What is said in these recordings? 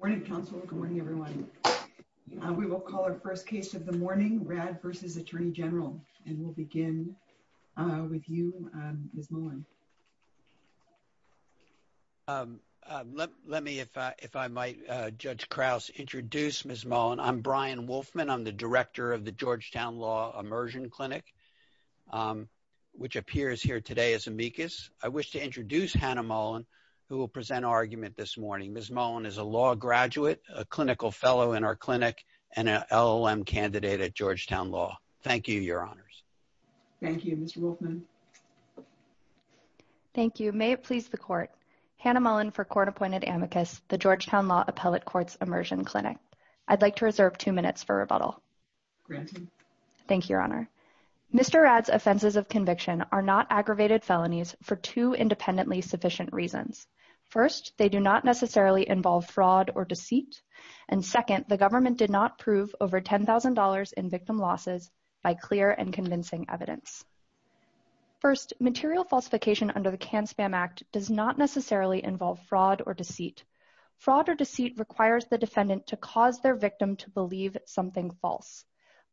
Morning, counsel. Good morning, everyone. We will call our first case of the morning rad versus Attorney General, and we'll begin with you, Ms. Mullen. Let me, if I might, Judge Krause, introduce Ms. Mullen. I'm Brian Wolfman. I'm the director of the Georgetown Law Immersion Clinic, which appears here today as amicus. I wish to introduce Hannah Mullen, who will present our argument this morning. Ms. Mullen is a law graduate, a clinical fellow in our clinic, and an LLM candidate at Georgetown Law. Thank you, Your Honors. Thank you, Mr. Wolfman. Thank you. May it please the Court. Hannah Mullen for court-appointed amicus, the Georgetown Law Appellate Courts Immersion Clinic. I'd like to reserve two minutes for rebuttal. Granted. Thank you, Your Honor. Mr. Rad's offenses of conviction are not aggravated felonies for two independently sufficient reasons. First, they do not necessarily involve fraud or deceit. And second, the government did not prove over $10,000 in victim losses by clear and convincing evidence. First, material falsification under the CAN-SPAM Act does not necessarily involve fraud or deceit. Fraud or deceit requires the defendant to cause their victim to believe something false.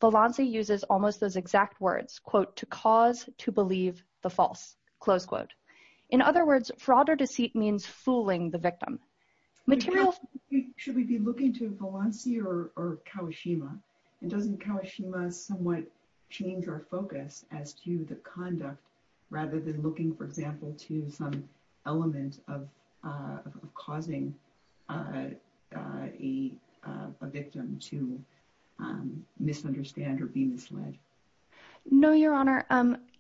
Valanci uses almost those exact words, quote, to cause to believe the false, close quote. In other words, fraud or deceit means fooling the victim. Should we be looking to Valanci or Kawashima? And doesn't Kawashima somewhat change our focus as to the conduct rather than looking, for example, to some element of causing a victim to misunderstand or be misled? No, Your Honor.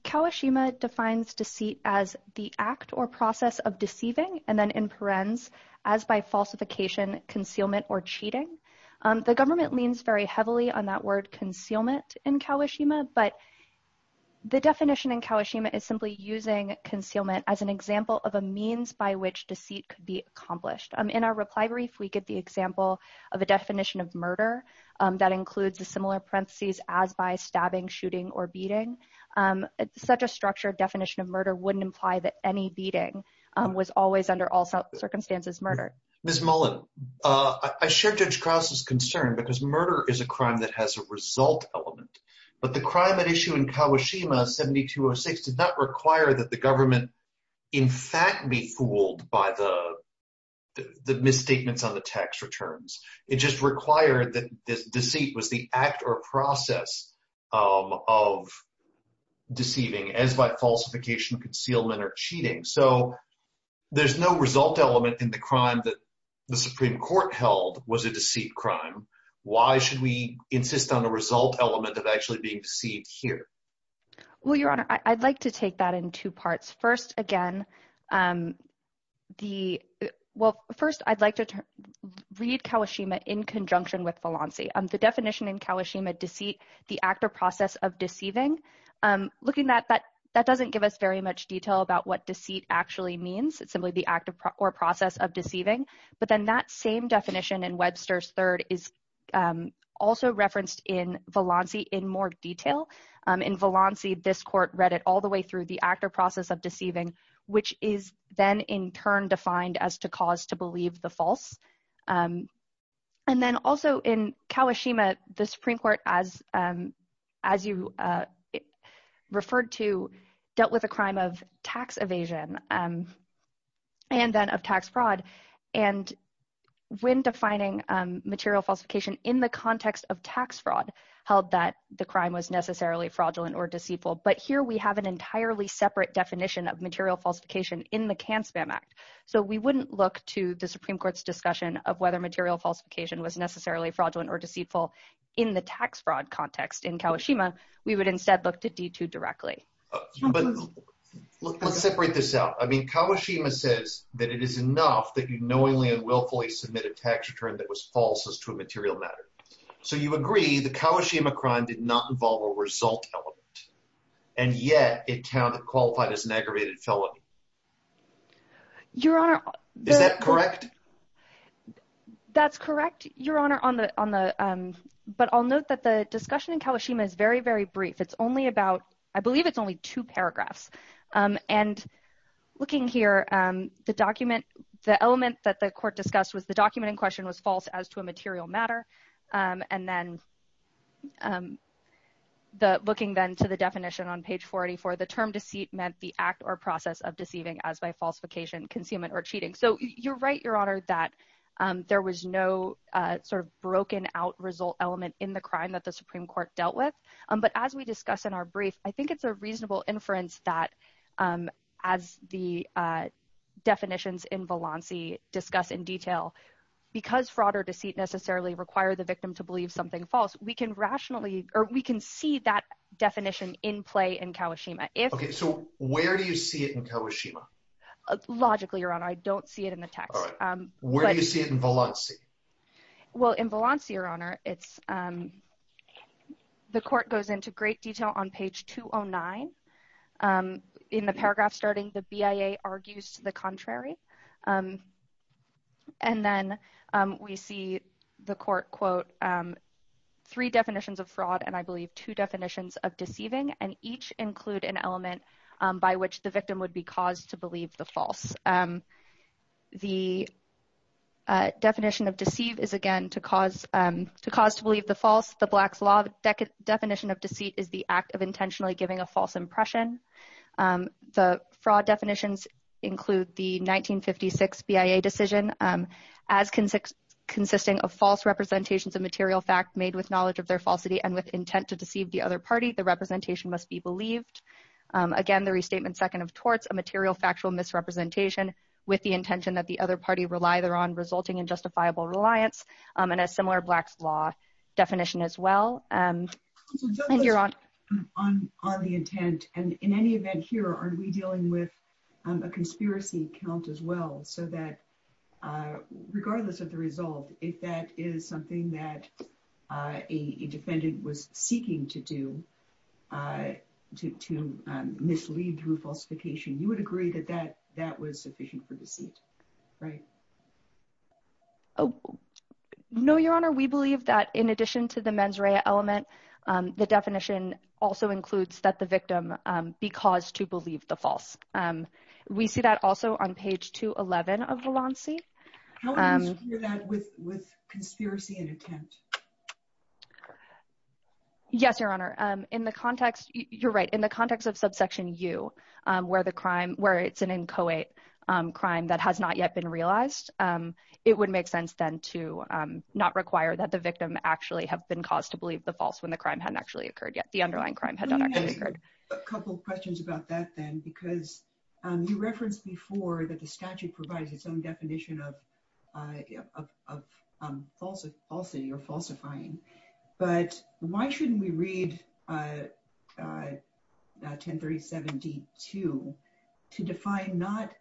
Kawashima defines deceit as the act or process of deceiving and then in parens, as by falsification, concealment, or cheating. The government leans very heavily on that word concealment in Kawashima, but the definition in Kawashima is simply using concealment as an example of a means by which deceit could be accomplished. In our reply brief, we get the example of a definition of murder that includes the similar parentheses as by stabbing, shooting, or beating. Such a structured definition of murder wouldn't imply that any beating was always under all circumstances murder. Ms. Mullen, I share Judge Krause's concern because murder is a crime that has a result element, but the crime at issue in Kawashima 7206 did not require that the government in fact be fooled by the misstatements on the tax returns. It just required that deceit was the act or process of deceiving, as by falsification, concealment, or cheating. So there's no result element in the crime that the Supreme Court held was a deceit crime. Why should we insist on a result element of actually being deceived here? Well, Your Honor, I'd like to take that in two parts. First, I'd like to read Kawashima in conjunction with Valanci. The definition in Kawashima, deceit, the act or process of deceiving, looking at that, that doesn't give us very much detail about what deceit actually means. It's simply the act or process of deceiving. But then that same definition in Webster's third is also referenced in Valanci in more detail. In Valanci, this court read it all the way through the act or process of deceiving, which is then in turn defined as to cause to believe the false. And then also in Kawashima, the Supreme Court, as you referred to, dealt with a crime of tax evasion and then of tax fraud. And when defining material falsification in the context of tax fraud, held that the crime was necessarily fraudulent or deceitful. But here we have an entirely separate definition of material falsification in the CAN-SPAM Act. So we wouldn't look to the Supreme Court's discussion of whether material falsification was necessarily fraudulent or deceitful in the tax fraud context in Kawashima. We would instead look to D2 directly. But let's separate this out. I mean Kawashima says that it is enough that you knowingly and willfully submit a tax return that was false as to a material matter. So you agree the Kawashima crime did not involve a result element, and yet it qualified as an aggravated felony. Is that correct? So you're right, Your Honor, that there was no sort of broken out result element in the crime that the Supreme Court dealt with. But as we discuss in our brief, I think it's a reasonable inference that as the definitions in Valanci discuss in detail, because fraud or deceit necessarily require the victim to believe something false, we can rationally or we can see that definition in play in Kawashima. Okay, so where do you see it in Kawashima? Logically, Your Honor, I don't see it in the text. Where do you see it in Valanci? Well, in Valanci, Your Honor, it's – the court goes into great detail on page 209. In the paragraph starting, the BIA argues to the contrary. And then we see the court quote three definitions of fraud and I believe two definitions of deceiving, and each include an element by which the victim would be caused to believe the false. The definition of deceive is, again, to cause to believe the false. The Black's Law definition of deceit is the act of intentionally giving a false impression. The fraud definitions include the 1956 BIA decision, as consisting of false representations of material fact made with knowledge of their falsity and with intent to deceive the other party, the representation must be believed. Again, the restatement second of torts, a material factual misrepresentation with the intention that the other party rely there on resulting in justifiable reliance, and a similar Black's Law definition as well. On the intent, and in any event here, are we dealing with a conspiracy count as well, so that regardless of the result, if that is something that a defendant was seeking to do, to mislead through falsification, you would agree that that was sufficient for deceit, right? No, Your Honor, we believe that in addition to the mens rea element, the definition also includes that the victim be caused to believe the false. We see that also on page 211 of Valanci. How do you secure that with conspiracy and attempt? Yes, Your Honor, in the context, you're right in the context of subsection you, where the crime where it's an inchoate crime that has not yet been realized, it would make sense then to not require that the victim actually have been caused to believe the false when the crime hadn't actually occurred yet the underlying crime. A couple questions about that then, because you referenced before that the statute provides its own definition of falsity or falsifying, but why shouldn't we read 1037 D2 to define not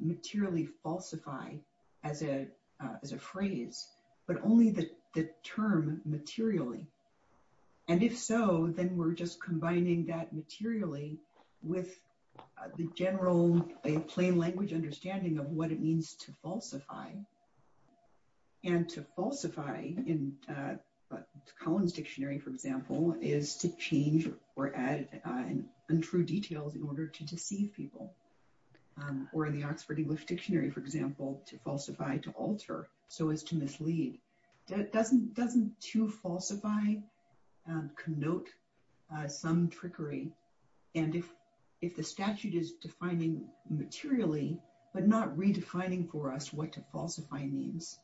materially falsify as a phrase, but only the term materially? And if so, then we're just combining that materially with the general plain language understanding of what it means to falsify. And to falsify in Collins Dictionary, for example, is to change or add untrue details in order to deceive people or in the Oxford English Dictionary, for example, to falsify to alter so as to mislead. Doesn't to falsify connote some trickery? And if the statute is defining materially, but not redefining for us what to falsify means,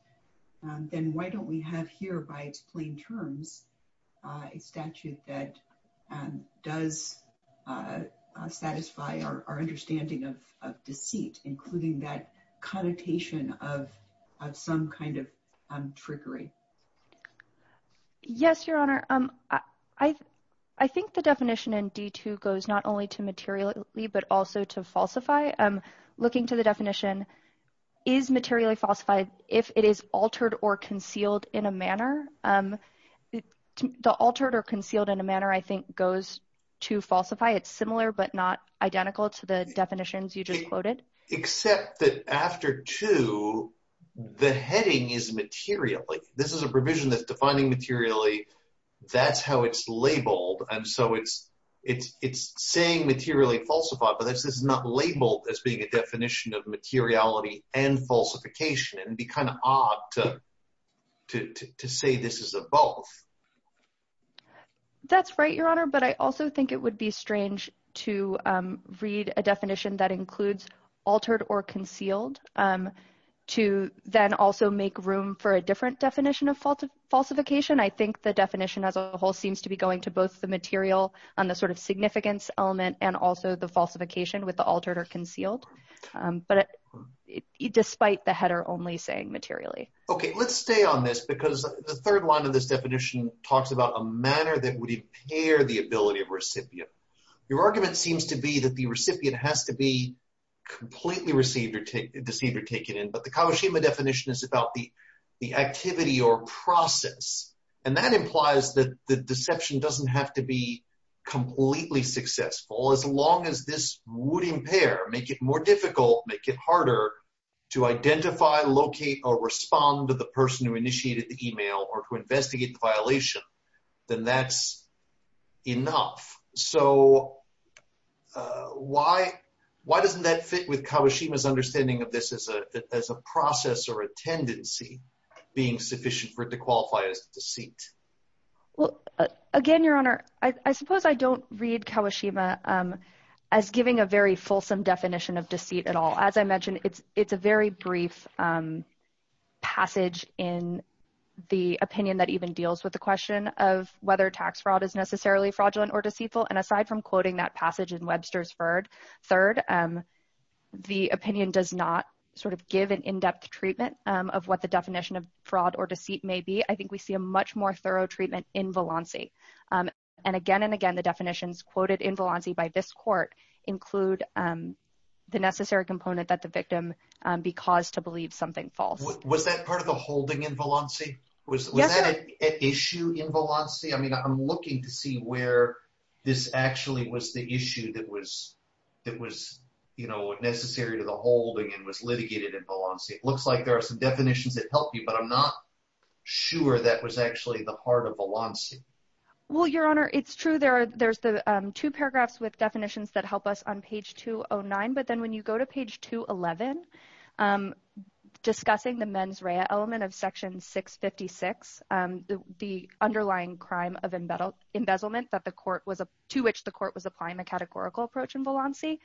then why don't we have here by its plain terms, a statute that does satisfy our understanding of deceit, including that connotation of some kind of trickery. Yes, Your Honor. I think the definition in D2 goes not only to materially, but also to falsify. Looking to the definition is materially falsified if it is altered or concealed in a manner. The altered or concealed in a manner I think goes to falsify. It's similar, but not identical to the definitions you just quoted. Except that after 2, the heading is materially. This is a provision that's defining materially. That's how it's labeled. And so it's saying materially falsified, but this is not labeled as being a definition of materiality and falsification. It would be kind of odd to say this is a both. That's right, Your Honor. But I also think it would be strange to read a definition that includes altered or concealed to then also make room for a different definition of falsification. I think the definition as a whole seems to be going to both the material and the sort of significance element and also the falsification with the altered or concealed. But despite the header only saying materially. Okay, let's stay on this because the third line of this definition talks about a manner that would impair the ability of recipient. Your argument seems to be that the recipient has to be completely deceived or taken in. But the Kagoshima definition is about the activity or process. And that implies that the deception doesn't have to be completely successful as long as this would impair, make it more difficult, make it harder to identify, locate, or respond to the person who initiated the email or to investigate the violation, then that's enough. So why doesn't that fit with Kagoshima's understanding of this as a process or a tendency being sufficient for it to qualify as deceit? And aside from quoting that passage in Webster's third, the opinion does not sort of give an in-depth treatment of what the definition of fraud or deceit may be. I think we see a much more thorough treatment in Valanci. And again and again, the definitions quoted in Valanci by this court include the necessary component that the victim be caused to believe something false. Was that part of the holding in Valanci? Was that an issue in Valanci? I mean, I'm looking to see where this actually was the issue that was necessary to the holding and was litigated in Valanci. It looks like there are some definitions that help you, but I'm not sure that was actually the heart of Valanci. Well, Your Honor, it's true. There's the two paragraphs with definitions that help us on page 209, but then when you go to page 211, discussing the mens rea element of section 656, the underlying crime of embezzlement to which the court was applying the categorical approach in Valanci,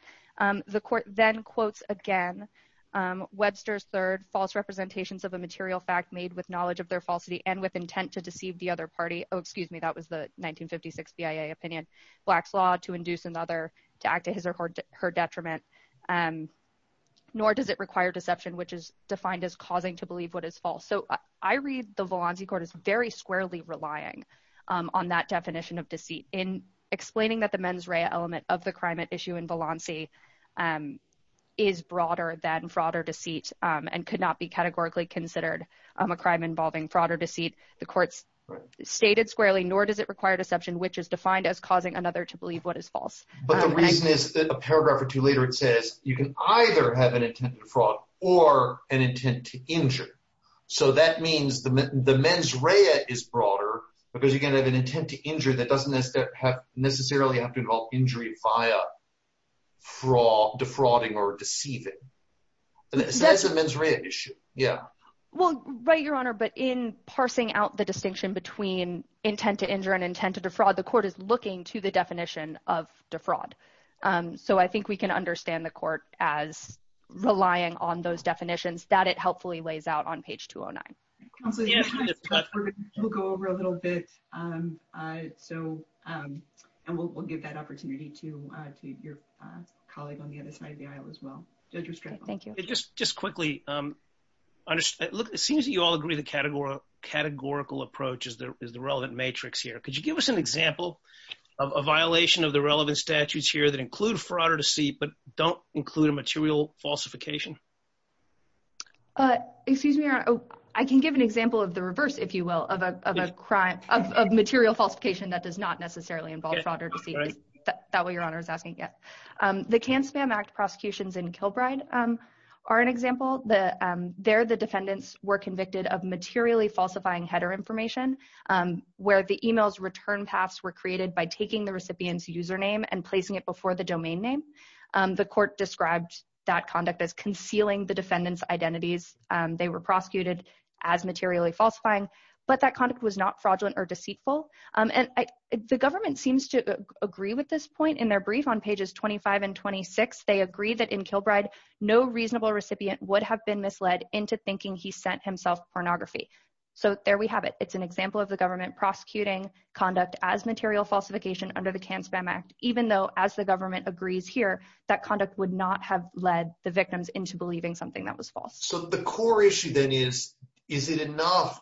the court then quotes again Webster's third, Oh, excuse me. That was the 1956 BIA opinion. So I read the Valanci court as very squarely relying on that definition of deceit in explaining that the mens rea element of the crime at issue in Valanci is broader than fraud or deceit and could not be categorically considered a crime involving fraud or deceit. The courts stated squarely, nor does it require deception, which is defined as causing another to believe what is false. But the reason is that a paragraph or two later, it says you can either have an intent to fraud or an intent to injure. So that means the mens rea is broader because you can have an intent to injure that doesn't necessarily have to involve injury via defrauding or deceiving. That's a mens rea issue. Yeah. Well, right, Your Honor, but in parsing out the distinction between intent to injure and intent to defraud, the court is looking to the definition of defraud. So I think we can understand the court as relying on those definitions that it helpfully lays out on page 209. Counselor, we'll go over a little bit. And we'll give that opportunity to your colleague on the other side of the aisle as well. Judge Restrepo. Thank you. Just quickly, it seems you all agree the categorical approach is the relevant matrix here. Could you give us an example of a violation of the relevant statutes here that include fraud or deceit but don't include a material falsification? Excuse me, Your Honor. I can give an example of the reverse, if you will, of a crime of material falsification that does not necessarily involve fraud or deceit. Is that what Your Honor is asking? Yes. The Can-Spam Act prosecutions in Kilbride are an example. There, the defendants were convicted of materially falsifying header information where the email's return paths were created by taking the recipient's username and placing it before the domain name. The court described that conduct as concealing the defendant's identities. They were prosecuted as materially falsifying, but that conduct was not fraudulent or deceitful. And the government seems to agree with this point. In their brief on pages 25 and 26, they agree that in Kilbride, no reasonable recipient would have been misled into thinking he sent himself pornography. So there we have it. It's an example of the government prosecuting conduct as material falsification under the Can-Spam Act, even though, as the government agrees here, that conduct would not have led the victims into believing something that was false. So the core issue then is, is it enough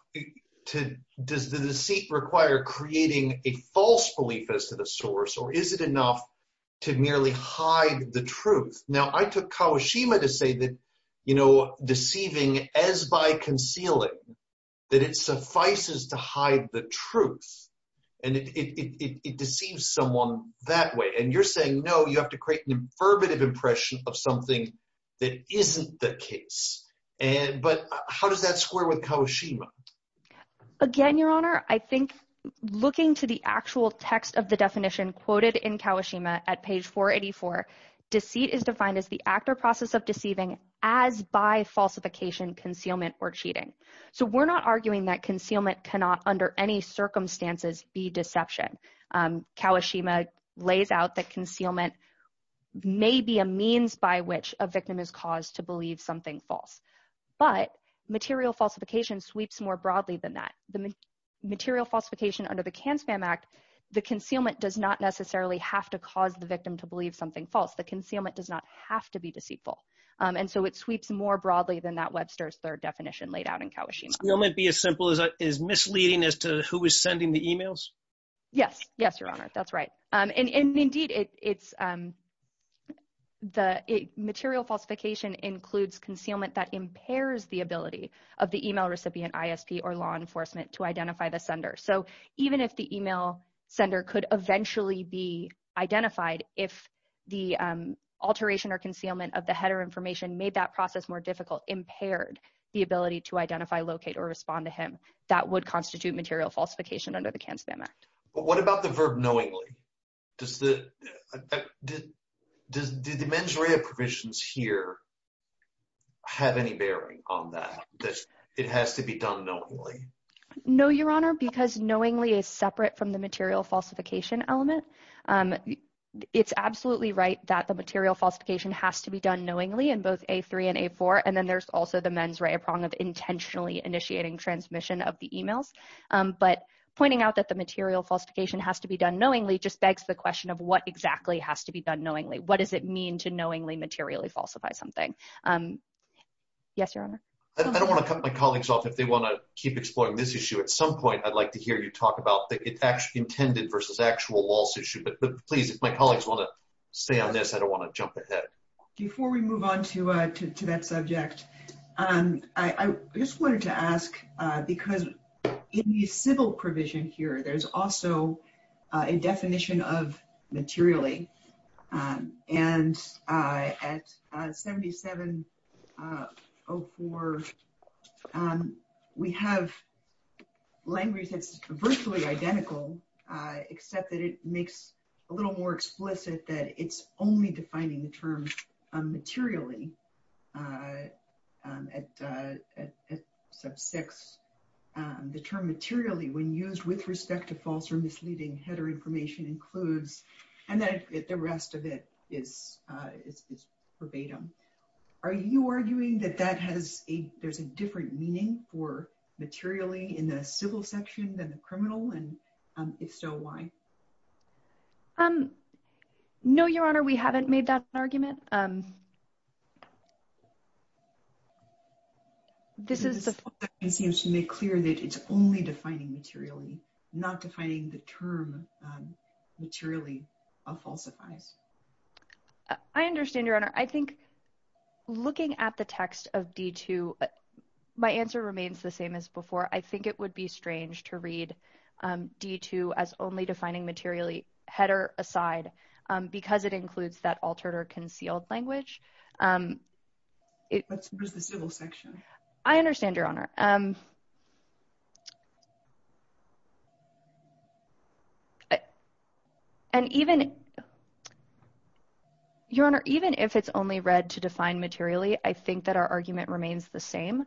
to – does the deceit require creating a false belief as to the source, or is it enough to merely hide the truth? Now, I took Kawashima to say that, you know, deceiving as by concealing, that it suffices to hide the truth, and it deceives someone that way. And you're saying, no, you have to create an affirmative impression of something that isn't the case. But how does that square with Kawashima? Again, Your Honor, I think looking to the actual text of the definition quoted in Kawashima at page 484, deceit is defined as the act or process of deceiving as by falsification, concealment, or cheating. So we're not arguing that concealment cannot under any circumstances be deception. Kawashima lays out that concealment may be a means by which a victim is caused to believe something false. But material falsification sweeps more broadly than that. Material falsification under the Can-Spam Act, the concealment does not necessarily have to cause the victim to believe something false. The concealment does not have to be deceitful. And so it sweeps more broadly than that Webster's third definition laid out in Kawashima. Will it be as simple as misleading as to who is sending the emails? Yes. Yes, Your Honor. That's right. And indeed, it's the material falsification includes concealment that impairs the ability of the email recipient ISP or law enforcement to identify the sender. So even if the email sender could eventually be identified, if the alteration or concealment of the header information made that process more difficult, impaired the ability to identify, locate, or respond to him, that would constitute material falsification under the Can-Spam Act. But what about the verb knowingly? Does the mens rea provisions here have any bearing on that, that it has to be done knowingly? No, Your Honor, because knowingly is separate from the material falsification element. It's absolutely right that the material falsification has to be done knowingly in both A3 and A4. And then there's also the mens rea prong of intentionally initiating transmission of the emails. But pointing out that the material falsification has to be done knowingly just begs the question of what exactly has to be done knowingly. What does it mean to knowingly materially falsify something? Yes, Your Honor. I don't want to cut my colleagues off if they want to keep exploring this issue. At some point, I'd like to hear you talk about the intended versus actual laws issue. But please, if my colleagues want to stay on this, I don't want to jump ahead. Before we move on to that subject, I just wanted to ask, because in the civil provision here, there's also a definition of materially. And at 7704, we have language that's virtually identical, except that it makes a little more explicit that it's only defining the term materially. At sub 6, the term materially when used with respect to false or misleading header information includes, and then the rest of it is verbatim. Are you arguing that there's a different meaning for materially in the civil section than the criminal? And if so, why? Um, no, Your Honor, we haven't made that argument. This is to make clear that it's only defining materially, not defining the term materially falsifies. I understand, Your Honor. I think looking at the text of D2, my answer remains the same as before. I think it would be strange to read D2 as only defining materially header aside, because it includes that altered or concealed language. I understand, Your Honor. And even, Your Honor, even if it's only read to define materially, I think that our argument remains the same,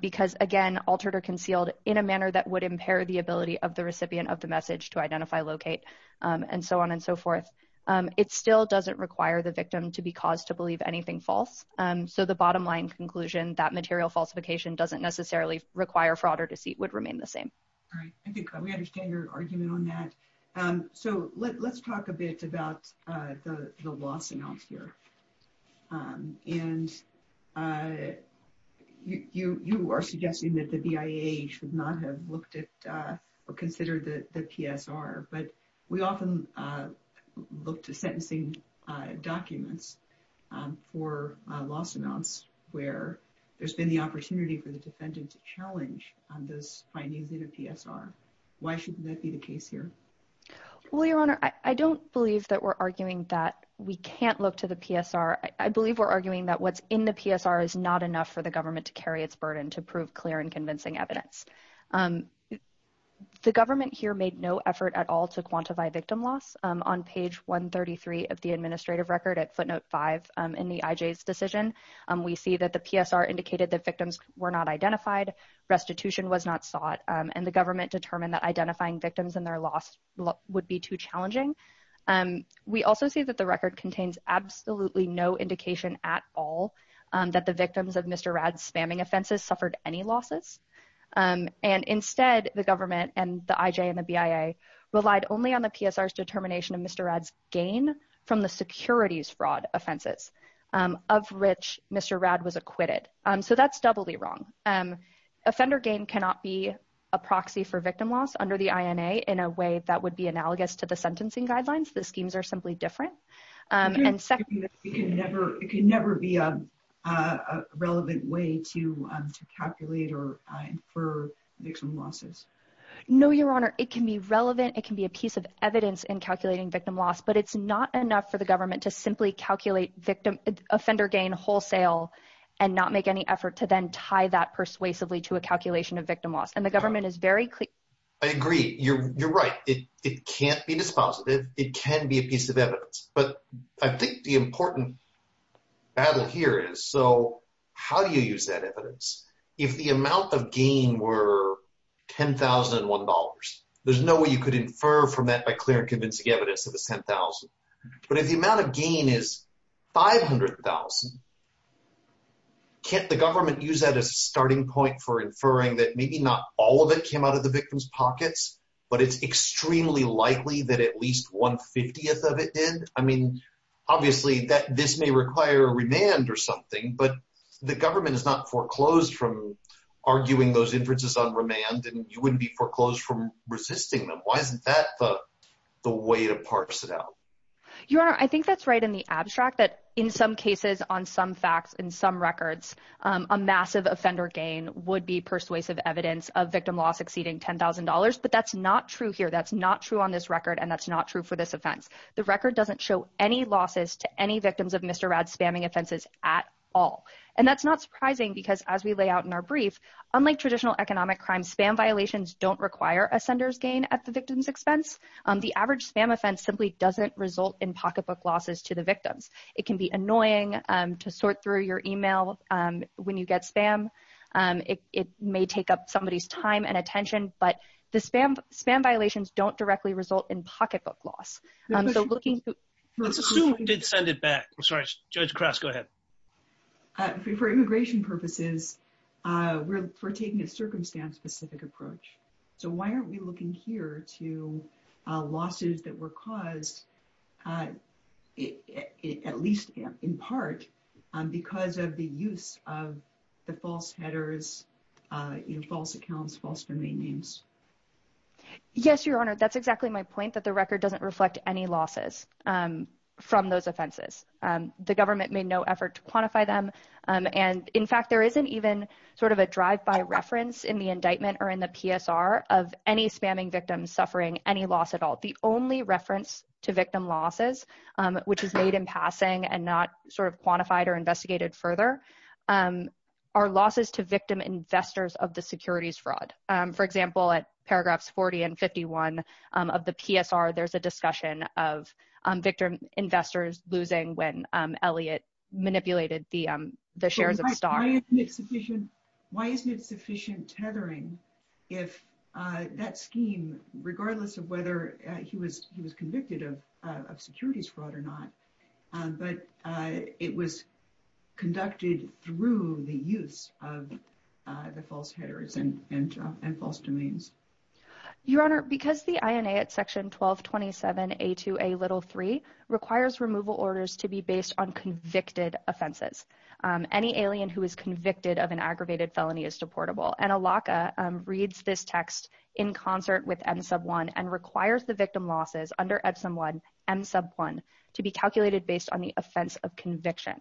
because, again, altered or concealed in a manner that would impair the ability of the recipient of the message to identify, locate, and so on and so forth. It still doesn't require the victim to be caused to believe anything false. So the bottom line conclusion that material falsification doesn't necessarily require fraud or deceit would remain the same. All right. I think we understand your argument on that. So let's talk a bit about the loss amounts here. And you are suggesting that the BIA should not have looked at or considered the PSR. But we often look to sentencing documents for loss amounts where there's been the opportunity for the defendant to challenge those findings in a PSR. Why shouldn't that be the case here? Well, Your Honor, I don't believe that we're arguing that we can't look to the PSR. I believe we're arguing that what's in the PSR is not enough for the government to carry its burden to prove clear and convincing evidence. The government here made no effort at all to quantify victim loss. On page 133 of the administrative record at footnote 5 in the IJ's decision, we see that the PSR indicated that victims were not identified, restitution was not sought, and the government determined that identifying victims and their loss would be too challenging. We also see that the record contains absolutely no indication at all that the victims of Mr. Rad's spamming offenses suffered any losses. And instead, the government and the IJ and the BIA relied only on the PSR's determination of Mr. Rad's gain from the securities fraud offenses of which Mr. Rad was acquitted. So that's doubly wrong. Offender gain cannot be a proxy for victim loss under the INA in a way that would be analogous to the sentencing guidelines. The schemes are simply different. It can never be a relevant way to calculate or infer victim losses. No, Your Honor. It can be relevant. It can be a piece of evidence in calculating victim loss. But it's not enough for the government to simply calculate offender gain wholesale and not make any effort to then tie that persuasively to a calculation of victim loss. And the government is very clear. I agree. You're right. It can't be dispositive. It can be a piece of evidence. But I think the important battle here is, so how do you use that evidence? If the amount of gain were $10,001, there's no way you could infer from that by clear and convincing evidence that it's $10,000. But if the amount of gain is $500,000, can't the government use that as a starting point for inferring that maybe not all of it came out of the victims' pockets, but it's extremely likely that at least one-fiftieth of it did? I mean, obviously, this may require remand or something, but the government is not foreclosed from arguing those inferences on remand, and you wouldn't be foreclosed from resisting them. Why isn't that the way to parse it out? Your Honor, I think that's right in the abstract, that in some cases, on some facts, in some records, a massive offender gain would be persuasive evidence of victim loss exceeding $10,000. But that's not true here. That's not true on this record, and that's not true for this offense. The record doesn't show any losses to any victims of Mr. Radd's spamming offenses at all. And that's not surprising, because as we lay out in our brief, unlike traditional economic crimes, spam violations don't require a sender's gain at the victim's expense. The average spam offense simply doesn't result in pocketbook losses to the victims. It can be annoying to sort through your email when you get spam. It may take up somebody's time and attention, but the spam violations don't directly result in pocketbook loss. Let's assume you did send it back. I'm sorry. Judge Krause, go ahead. For immigration purposes, we're taking a circumstance-specific approach. So why aren't we looking here to losses that were caused, at least in part, because of the use of the false headers, false accounts, false domain names? Yes, Your Honor, that's exactly my point, that the record doesn't reflect any losses from those offenses. The government made no effort to quantify them. And in fact, there isn't even sort of a drive-by reference in the indictment or in the PSR of any spamming victims suffering any loss at all. The only reference to victim losses, which is made in passing and not sort of quantified or investigated further, are losses to victim investors of the securities fraud. For example, at paragraphs 40 and 51 of the PSR, there's a discussion of victim investors losing when Elliott manipulated the shares of Star. Why isn't it sufficient tethering if that scheme, regardless of whether he was convicted of securities fraud or not, but it was conducted through the use of the false headers and false domains? Your Honor, because the INA at section 1227A2A3 requires removal orders to be based on convicted offenses, any alien who is convicted of an aggravated felony is deportable. And ALACA reads this text in concert with MSUB1 and requires the victim losses under MSUB1 to be calculated based on the offense of conviction.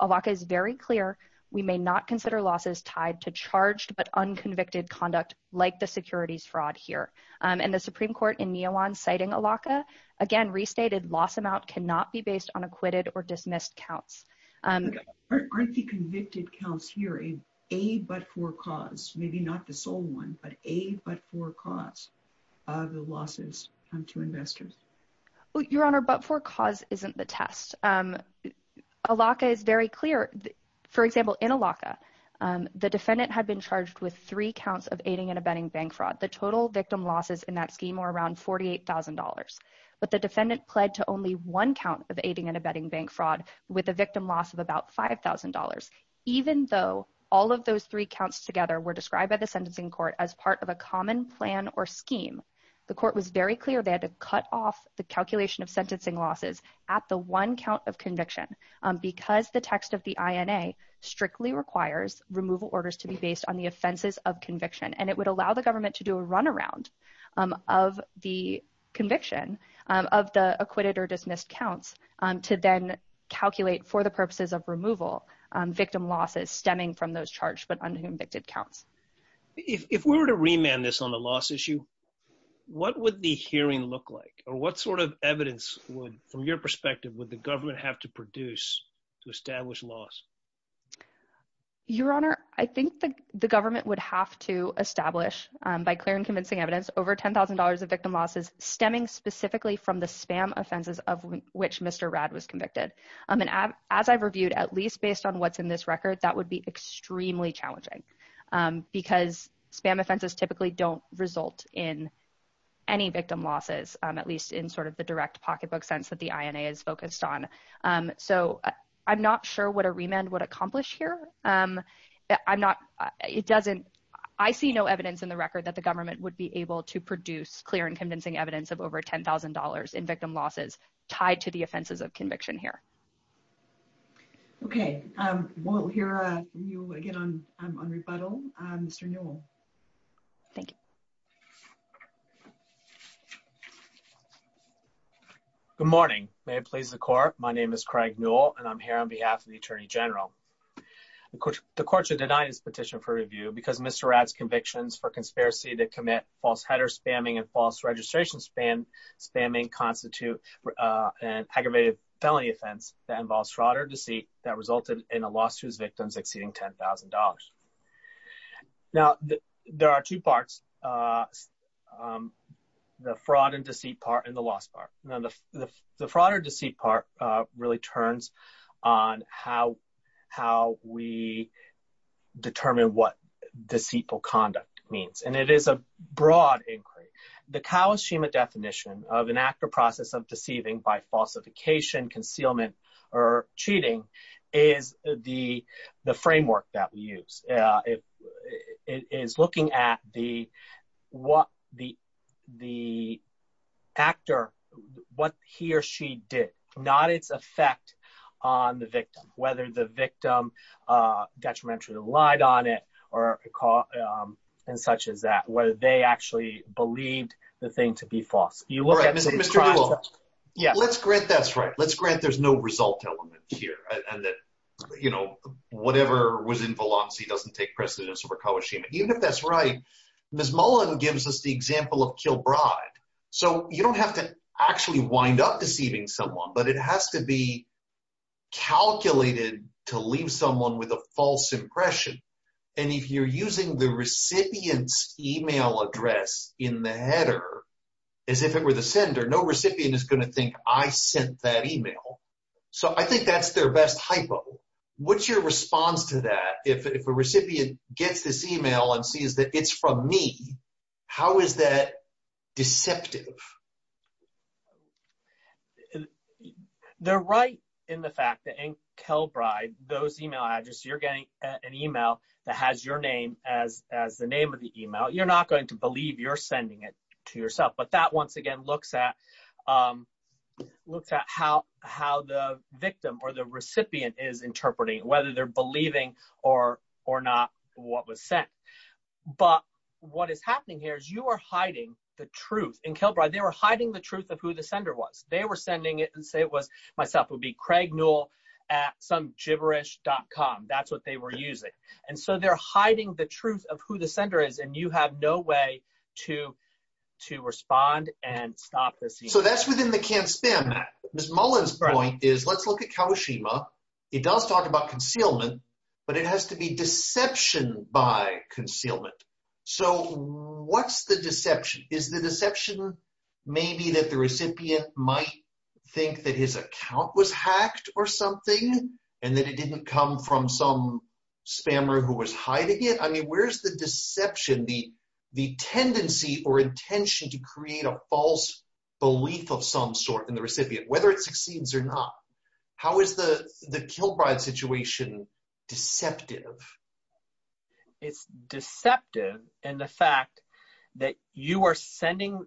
ALACA is very clear. We may not consider losses tied to charged but unconvicted conduct like the securities fraud here. And the Supreme Court in Mioan citing ALACA again restated loss amount cannot be based on acquitted or dismissed counts. Aren't the convicted counts here a but-for-cause, maybe not the sole one, but a but-for-cause of the losses to investors? Your Honor, but-for-cause isn't the test. ALACA is very clear. For example, in ALACA, the defendant had been charged with three counts of aiding and abetting bank fraud. The total victim losses in that scheme were around $48,000. But the defendant pled to only one count of aiding and abetting bank fraud with a victim loss of about $5,000. Even though all of those three counts together were described by the sentencing court as part of a common plan or scheme, the court was very clear they had to cut off the calculation of sentencing losses at the one count of conviction because the text of the INA strictly requires removal orders to be based on the offenses of conviction. And it would allow the government to do a runaround of the conviction of the acquitted or dismissed counts to then calculate for the purposes of removal victim losses stemming from those charged but unconvicted counts. If we were to remand this on the loss issue, what would the hearing look like or what sort of evidence would, from your perspective, would the government have to produce to establish loss? Your Honor, I think the government would have to establish, by clear and convincing evidence, over $10,000 of victim losses stemming specifically from the spam offenses of which Mr. Radd was convicted. And as I've reviewed, at least based on what's in this record, that would be extremely challenging because spam offenses typically don't result in any victim losses, at least in sort of the direct pocketbook sense that the INA is focused on. So I'm not sure what a remand would accomplish here. I'm not, it doesn't, I see no evidence in the record that the government would be able to produce clear and convincing evidence of over $10,000 in victim losses tied to the offenses of conviction here. Okay, we'll hear from you again on rebuttal, Mr. Newell. Thank you. Good morning. May it please the Court, my name is Craig Newell and I'm here on behalf of the Attorney General. The Court should deny this petition for review because Mr. Radd's convictions for conspiracy to commit false header spamming and false registration spamming constitute an aggravated felony offense that involves fraud or deceit that resulted in a loss to his victims exceeding $10,000. Now, there are two parts, the fraud and deceit part and the loss part. The fraud or deceit part really turns on how we determine what deceitful conduct means, and it is a broad inquiry. The Kawashima definition of an actor process of deceiving by falsification, concealment, or cheating is the framework that we use. It is looking at the actor, what he or she did, not its effect on the victim, whether the victim detrimentally relied on it or such as that, whether they actually believed the thing to be false. Mr. Newell, let's grant that's right. Let's grant there's no result element here and that, you know, whatever was in Valanci doesn't take precedence over Kawashima. Even if that's right, Ms. Mullen gives us the example of Kilbride. So, you don't have to actually wind up deceiving someone, but it has to be calculated to leave someone with a false impression. And if you're using the recipient's email address in the header as if it were the sender, no recipient is going to think, I sent that email. So, I think that's their best hypo. What's your response to that? If a recipient gets this email and sees that it's from me, how is that deceptive? They're right in the fact that in Kilbride, those email addresses, you're getting an email that has your name as the name of the email. You're not going to believe you're sending it to yourself, but that once again looks at how the victim or the recipient is interpreting, whether they're believing or not what was sent. But what is happening here is you are hiding the truth. In Kilbride, they were hiding the truth of who the sender was. They were sending it and say it was myself. It would be Craig Newell at some gibberish.com. That's what they were using. And so, they're hiding the truth of who the sender is, and you have no way to respond and stop this email. So, that's within the Can't Spam Act. Ms. Mullen's point is, let's look at Kawashima. It does talk about concealment, but it has to be deception by concealment. So, what's the deception? Is the deception maybe that the recipient might think that his account was hacked or something, and that it didn't come from some spammer who was hiding it? I mean, where's the deception, the tendency or intention to create a false belief of some sort in the recipient, whether it succeeds or not? How is the Kilbride situation deceptive? It's deceptive in the fact that you are sending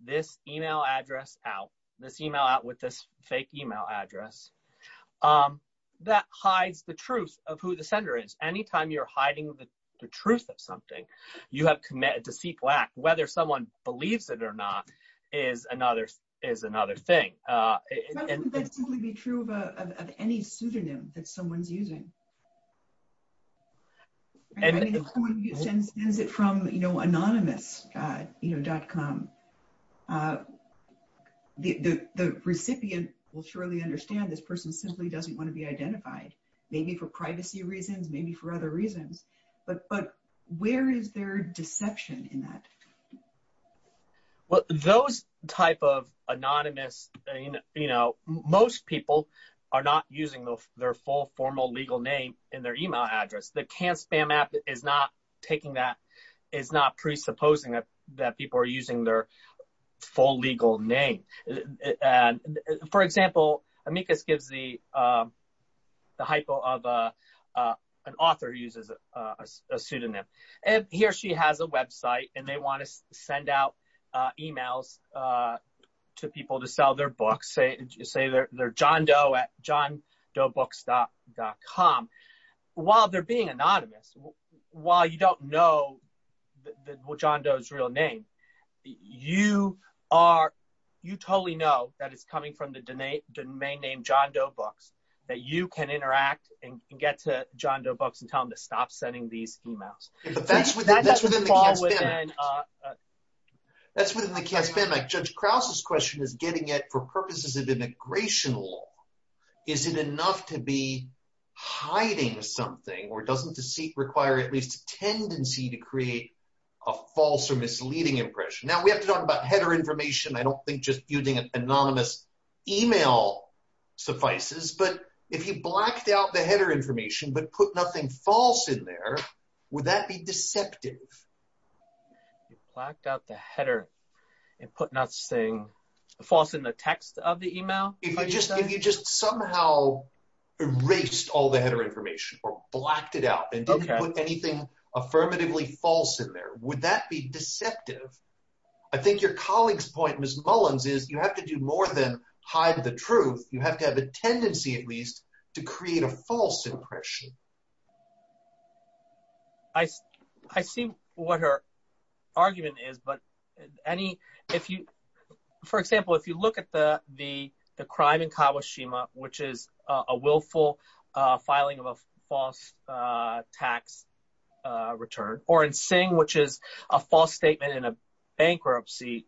this email address out, this email out with this fake email address, that hides the truth of who the sender is. Anytime you're hiding the truth of something, you have committed deceitful act. Whether someone believes it or not is another thing. But wouldn't that simply be true of any pseudonym that someone's using? If someone sends it from anonymous.com, the recipient will surely understand this person simply doesn't want to be identified, maybe for privacy reasons, maybe for other reasons. But where is their deception in that? Well, those type of anonymous, you know, most people are not using their full formal legal name in their email address. The CanSpam app is not presupposing that people are using their full legal name. For example, Amicus gives the hypo of an author who uses a pseudonym. And he or she has a website and they want to send out emails to people to sell their books. Say they're John Doe at JohnDoeBooks.com. While they're being anonymous, while you don't know John Doe's real name, you totally know that it's coming from the domain name John Doe Books, that you can interact and get to John Doe Books and tell them to stop sending these emails. But that's within the CanSpam app. That's within the CanSpam app. Judge Krause's question is getting it for purposes of immigration law. Is it enough to be hiding something or doesn't deceit require at least a tendency to create a false or misleading impression? Now, we have to talk about header information. I don't think just using an anonymous email suffices. But if you blacked out the header information but put nothing false in there, would that be deceptive? You blacked out the header and put nothing false in the text of the email? If you just somehow erased all the header information or blacked it out and didn't put anything affirmatively false in there, would that be deceptive? I think your colleague's point, Ms. Mullins, is you have to do more than hide the truth. You have to have a tendency at least to create a false impression. I see what her argument is, but any – for example, if you look at the crime in Kawashima, which is a willful filing of a false tax return, or in Sing, which is a false statement in a bankruptcy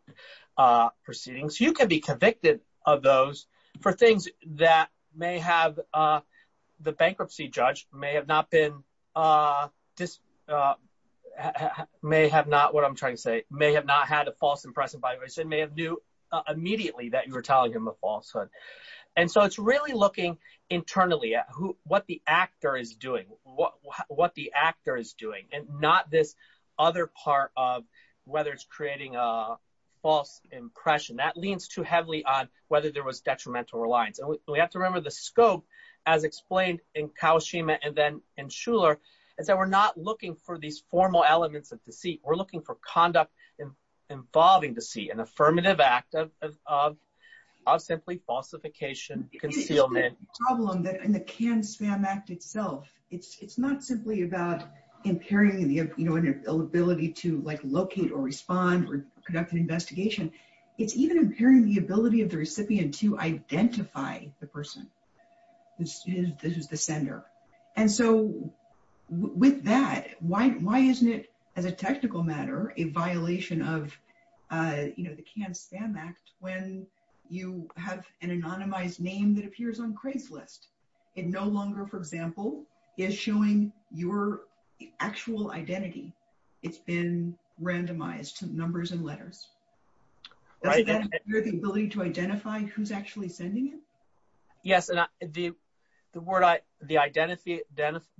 proceedings, you can be convicted of those for things that may have – the bankruptcy judge may have not been – may have not – what I'm trying to say – may have not had a false impression, by the way, and may have knew immediately that you were telling him a falsehood. And so it's really looking internally at what the actor is doing, what the actor is doing, and not this other part of whether it's creating a false impression. That leans too heavily on whether there was detrimental reliance. And we have to remember the scope, as explained in Kawashima and then in Shuler, is that we're not looking for these formal elements of deceit. We're looking for conduct involving deceit, an affirmative act of simply falsification, concealment. The problem that in the Cannes Spam Act itself, it's not simply about impairing the ability to locate or respond or conduct an investigation. It's even impairing the ability of the recipient to identify the person who's the sender. And so with that, why isn't it, as a technical matter, a violation of the Cannes Spam Act when you have an anonymized name that appears on Craigslist? It no longer, for example, is showing your actual identity. It's been randomized to numbers and letters. Does that impair the ability to identify who's actually sending it? Yes, and the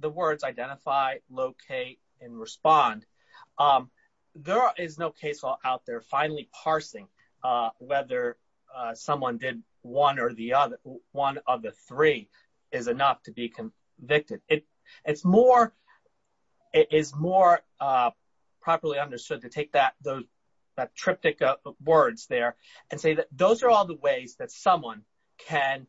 words identify, locate, and respond, there is no case law out there finally parsing whether someone did one or the other. One of the three is enough to be convicted. It's more properly understood to take that triptych of words there and say that those are all the ways that someone can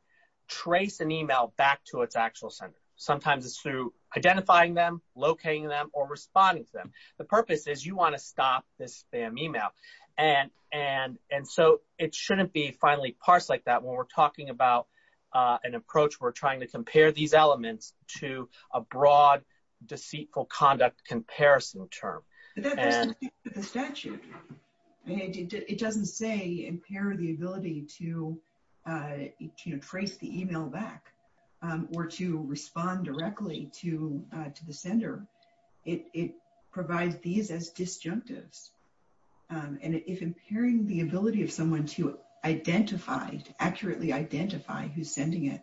trace an email back to its actual sender. Sometimes it's through identifying them, locating them, or responding to them. The purpose is you want to stop this spam email. And so it shouldn't be finally parsed like that. When we're talking about an approach, we're trying to compare these elements to a broad, deceitful conduct comparison term. It doesn't say impair the ability to trace the email back or to respond directly to the sender. It provides these as disjunctives. And if impairing the ability of someone to identify, to accurately identify who's sending it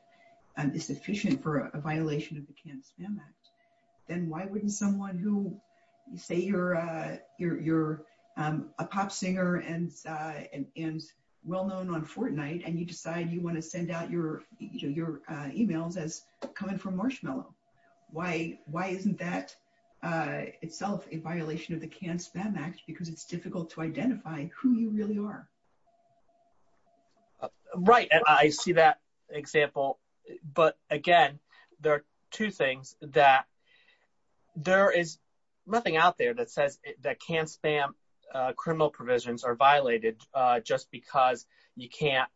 is sufficient for a violation of the Cannes Spam Act, then why wouldn't someone who, say, you're a pop singer and well-known on Fortnite, and you decide you want to send out your emails as coming from Marshmallow. Why isn't that itself a violation of the Cannes Spam Act because it's difficult to identify who you really are? Right, and I see that example. But again, there are two things that there is nothing out there that says that Cannes Spam criminal provisions are violated just because you can't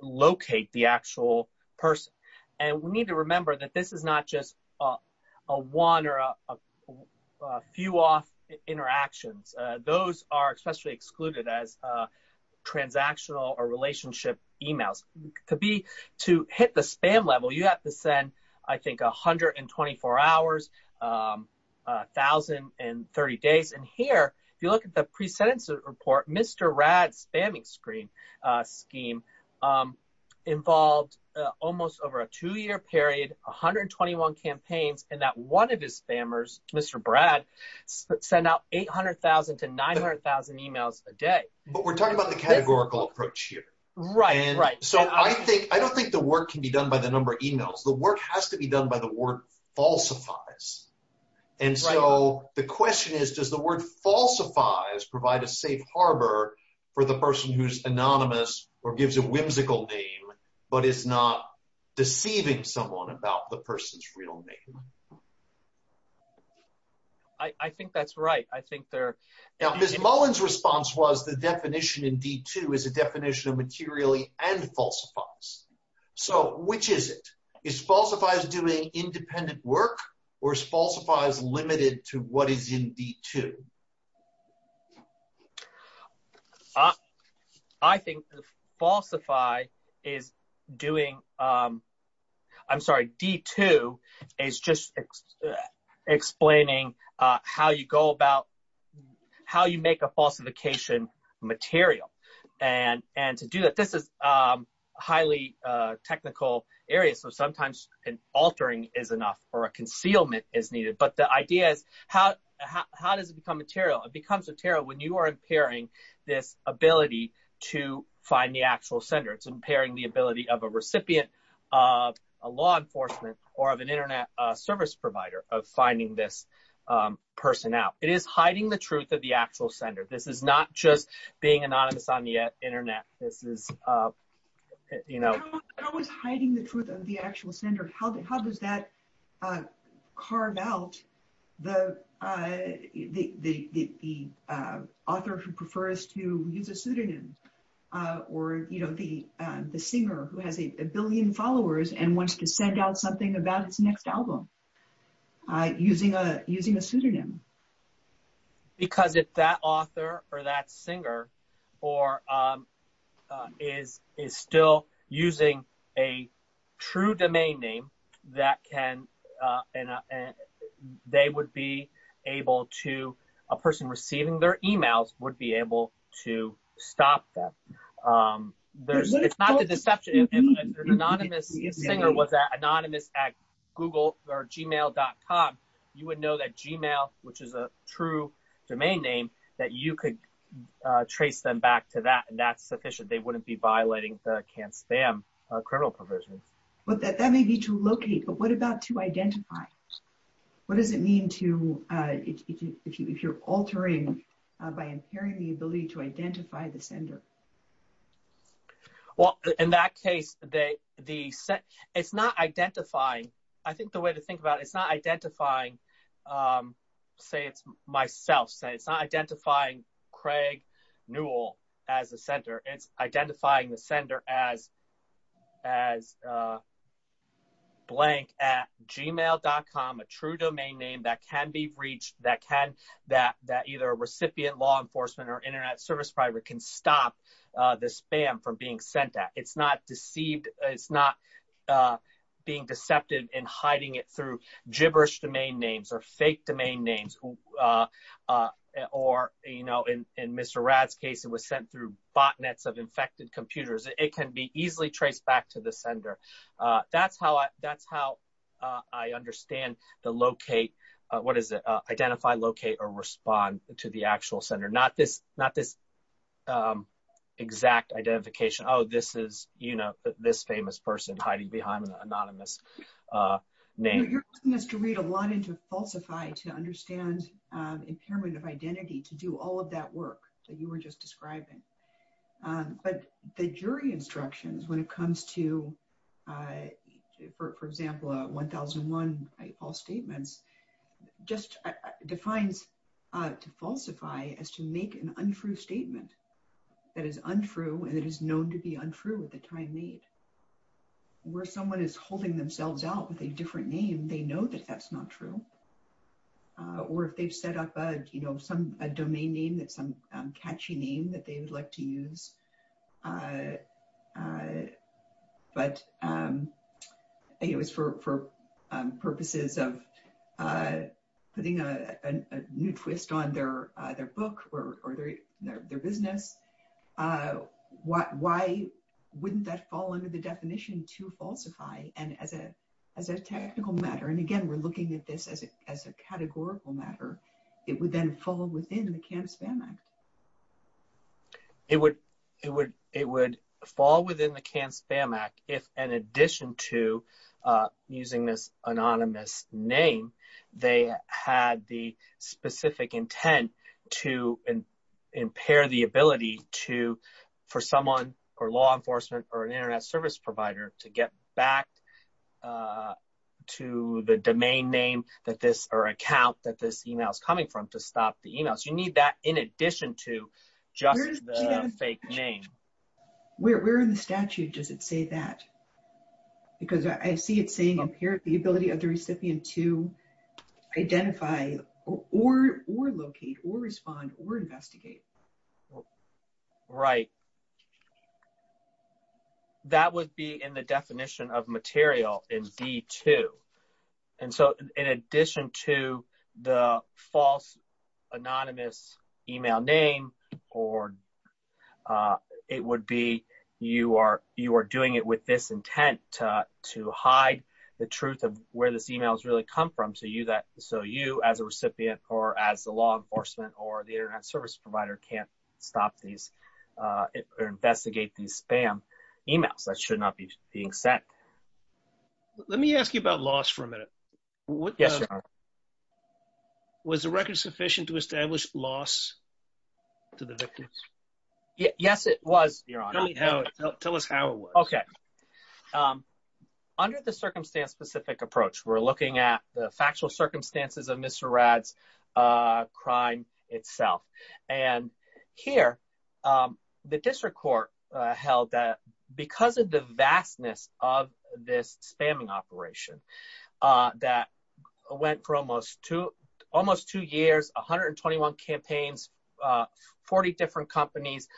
locate the actual person. And we need to remember that this is not just a one or a few off interactions. Those are especially excluded as transactional or relationship emails. To hit the spam level, you have to send, I think, 124 hours, 1,030 days. And here, if you look at the pre-sentence report, Mr. Rad's spamming scheme involved almost over a two-year period, 121 campaigns, and that one of his spammers, Mr. Brad, sent out 800,000 to 900,000 emails a day. But we're talking about the categorical approach here. Right, right. So I don't think the work can be done by the number of emails. The work has to be done by the word falsifies. And so the question is, does the word falsifies provide a safe harbor for the person who's anonymous or gives a whimsical name but is not deceiving someone about the person's real name? I think that's right. I think they're— Now, Ms. Mullen's response was the definition in D2 is a definition of materially and falsifies. So which is it? Is falsifies doing independent work or is falsifies limited to what is in D2? I think falsify is doing—I'm sorry, D2 is just explaining how you go about—how you make a falsification material. And to do that, this is a highly technical area, so sometimes an altering is enough or a concealment is needed. But the idea is, how does it become material? It becomes material when you are impairing this ability to find the actual sender. It's impairing the ability of a recipient of law enforcement or of an internet service provider of finding this person out. It is hiding the truth of the actual sender. This is not just being anonymous on the internet. This is, you know— How is hiding the truth of the actual sender? How does that carve out the author who prefers to use a pseudonym or, you know, the singer who has a billion followers and wants to send out something about his next album using a pseudonym? Because if that author or that singer is still using a true domain name, they would be able to—a person receiving their emails would be able to stop them. It's not the deception. If an anonymous singer was anonymous at Google or Gmail.com, you would know that Gmail, which is a true domain name, that you could trace them back to that, and that's sufficient. They wouldn't be violating the can spam criminal provisions. That may be to locate, but what about to identify? What does it mean to—if you're altering by impairing the ability to identify the sender? Well, in that case, it's not identifying—I think the way to think about it, it's not identifying—say it's myself. It's not being deceptive in hiding it through gibberish domain names or fake domain names or, you know, in Mr. Rad's case, it was sent through botnets of infected computers. It can be easily traced back to the sender. That's how I understand the locate—what is it? Identify, locate, or respond to the actual sender. Not this exact identification. Oh, this is, you know, this famous person hiding behind an anonymous name. You know, you're going to have to read a lot into falsify to understand impairment of identity to do all of that work that you were just describing. But the jury instructions, when it comes to, for example, 1001 false statements, just defines to falsify as to make an untrue statement that is untrue and that is known to be untrue at the time made. Where someone is holding themselves out with a different name, they know that that's not true. Or if they've set up a, you know, some domain name that some catchy name that they would like to use, but it was for purposes of putting a new twist on their book or their business. Why wouldn't that fall under the definition to falsify? And as a technical matter, and again, we're looking at this as a categorical matter, it would then fall within the Cannes Spam Act. It would fall within the Cannes Spam Act if, in addition to using this anonymous name, they had the specific intent to impair the ability for someone or law enforcement or an internet service provider to get back to the domain name or account that this email is coming from to stop the email. So you need that in addition to just the fake name. Where in the statute does it say that? Because I see it saying impair the ability of the recipient to identify or locate or respond or investigate. Right. That would be in the definition of material in D2. And so in addition to the false anonymous email name, or it would be you are doing it with this intent to hide the truth of where this email has really come from. So you as a recipient or as the law enforcement or the internet service provider can't stop these or investigate these spam emails that should not be being sent. Let me ask you about loss for a minute. Yes, Your Honor. Was the record sufficient to establish loss to the victims? Yes, it was, Your Honor. Tell us how it was. Okay. Under the circumstance specific approach, we're looking at the factual circumstances of Mr. Rad's crime itself. And here, the district court held that because of the vastness of this spamming operation that went for almost two years, 121 campaigns, 40 different companies,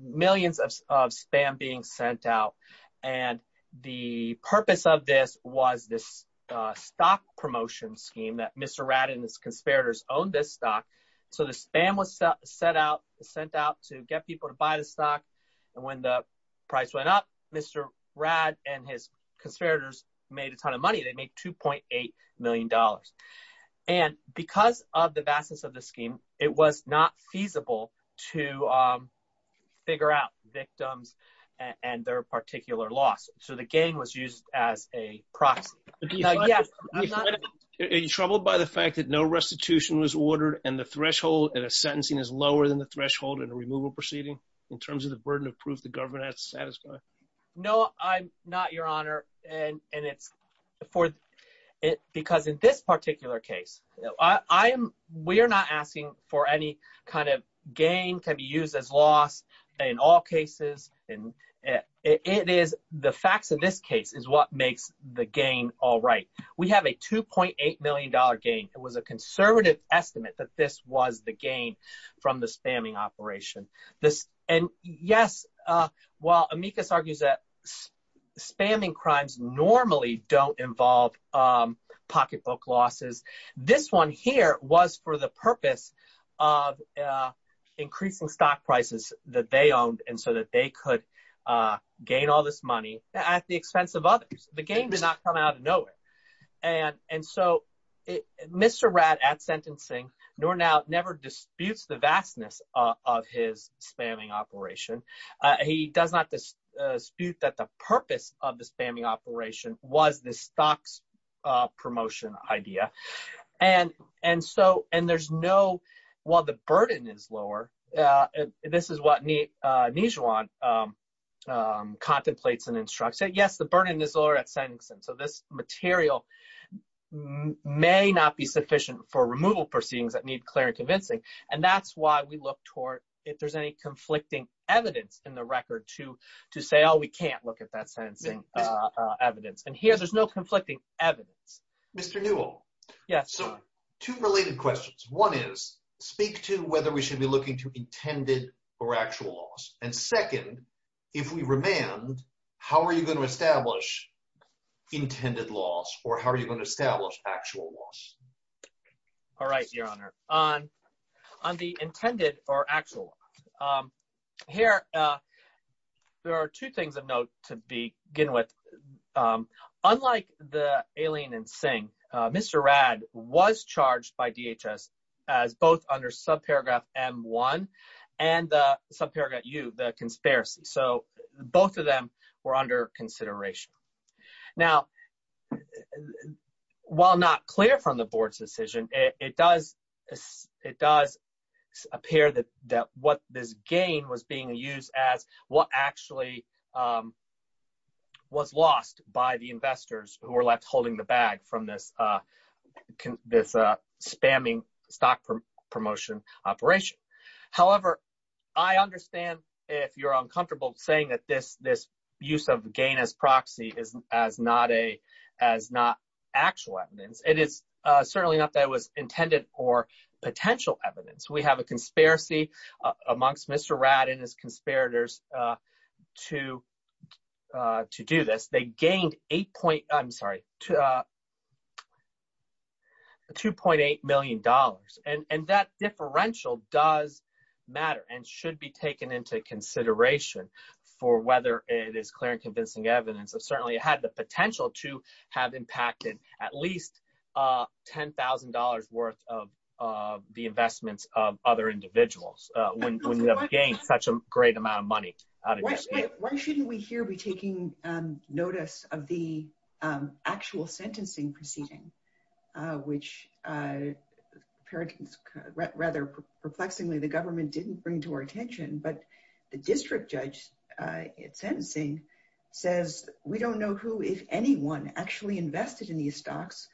millions of spam being sent out. And the purpose of this was this stock promotion scheme that Mr. Rad and his conspirators owned this stock. So the spam was sent out to get people to buy the stock, and when the price went up, Mr. Rad and his conspirators made a ton of money. They made $2.8 million. And because of the vastness of the scheme, it was not feasible to figure out victims and their particular loss, so the gang was used as a proxy. Are you troubled by the fact that no restitution was ordered and the threshold and the sentencing is lower than the threshold in a removal proceeding in terms of the burden of proof the government has to satisfy? No, I'm not, Your Honor. Because in this particular case, we are not asking for any kind of gain to be used as loss in all cases. The facts of this case is what makes the gain all right. We have a $2.8 million gain. It was a conservative estimate that this was the gain from the spamming operation. And yes, while Amicus argues that spamming crimes normally don't involve pocketbook losses, this one here was for the purpose of increasing stock prices that they owned and so that they could gain all this money at the expense of others. The gain did not come out of nowhere. And so Mr. Ratt at sentencing, no doubt, never disputes the vastness of his spamming operation. He does not dispute that the purpose of the spamming operation was the stock's promotion idea. And so – and there's no – while the burden is lower, this is what Nijwaan contemplates and instructs. He said, yes, the burden is lower at sentencing. So this material may not be sufficient for removal proceedings that need clear and convincing. And that's why we look toward if there's any conflicting evidence in the record to say, oh, we can't look at that sentencing evidence. And here there's no conflicting evidence. Mr. Newell. Yes, Your Honor. Two related questions. One is speak to whether we should be looking to intended or actual loss. And second, if we remand, how are you going to establish intended loss or how are you going to establish actual loss? All right, Your Honor. On the intended or actual loss, here there are two things of note to begin with. Unlike the Aileen and Singh, Mr. Radd was charged by DHS as both under subparagraph M1 and subparagraph U, the conspiracy. So both of them were under consideration. Now, while not clear from the board's decision, it does appear that what this gain was being used as actually was lost by the investors who were left holding the bag from this spamming stock promotion operation. However, I understand if you're uncomfortable saying that this use of gain as proxy is not actual evidence. It is certainly not that it was intended or potential evidence. We have a conspiracy amongst Mr. Radd and his conspirators to do this. They gained $2.8 million. And that differential does matter and should be taken into consideration for whether it is clear and convincing evidence. It certainly had the potential to have impacted at least $10,000 worth of the investments of other individuals when they have gained such a great amount of money. Why shouldn't we here be taking notice of the actual sentencing proceeding, which rather perplexingly the government didn't bring to our attention. But the district judge at sentencing says we don't know who, if anyone, actually invested in these stocks,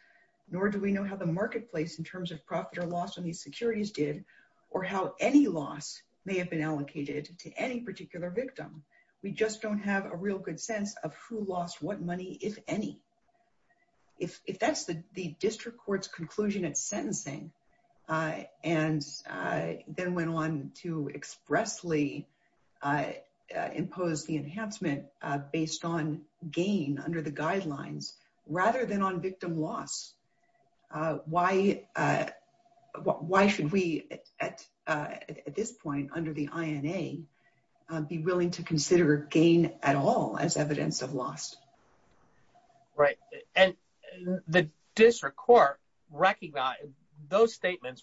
nor do we know how the marketplace in terms of profit or loss on these securities did or how any loss may have been allocated to any particular victim. We just don't have a real good sense of who lost what money, if any. If that's the district court's conclusion at sentencing and then went on to expressly impose the enhancement based on gain under the guidelines rather than on victim loss, why should we at this point under the INA be willing to consider gain at all as evidence of loss? Right. And the district court, those statements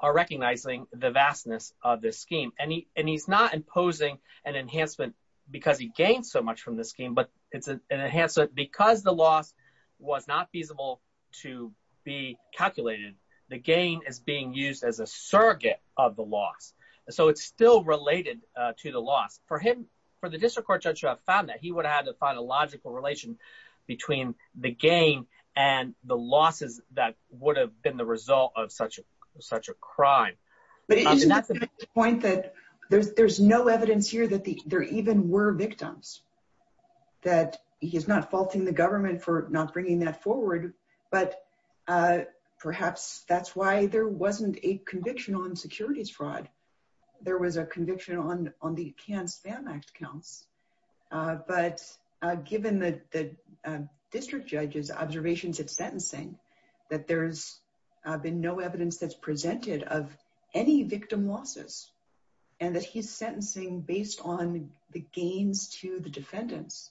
are recognizing the vastness of this scheme. And he's not imposing an enhancement because he gained so much from this scheme, but it's an enhancement because the loss was not feasible to be calculated. The gain is being used as a surrogate of the loss. So it's still related to the loss. For the district court judge to have found that, he would have had to find a logical relation between the gain and the losses that would have been the result of such a crime. But isn't that the point that there's no evidence here that there even were victims? That he's not faulting the government for not bringing that forward, but perhaps that's why there wasn't a conviction on securities fraud. There was a conviction on the canned spam act counts. But given the district judge's observations at sentencing, that there's been no evidence that's presented of any victim losses, and that he's sentencing based on the gains to the defendants,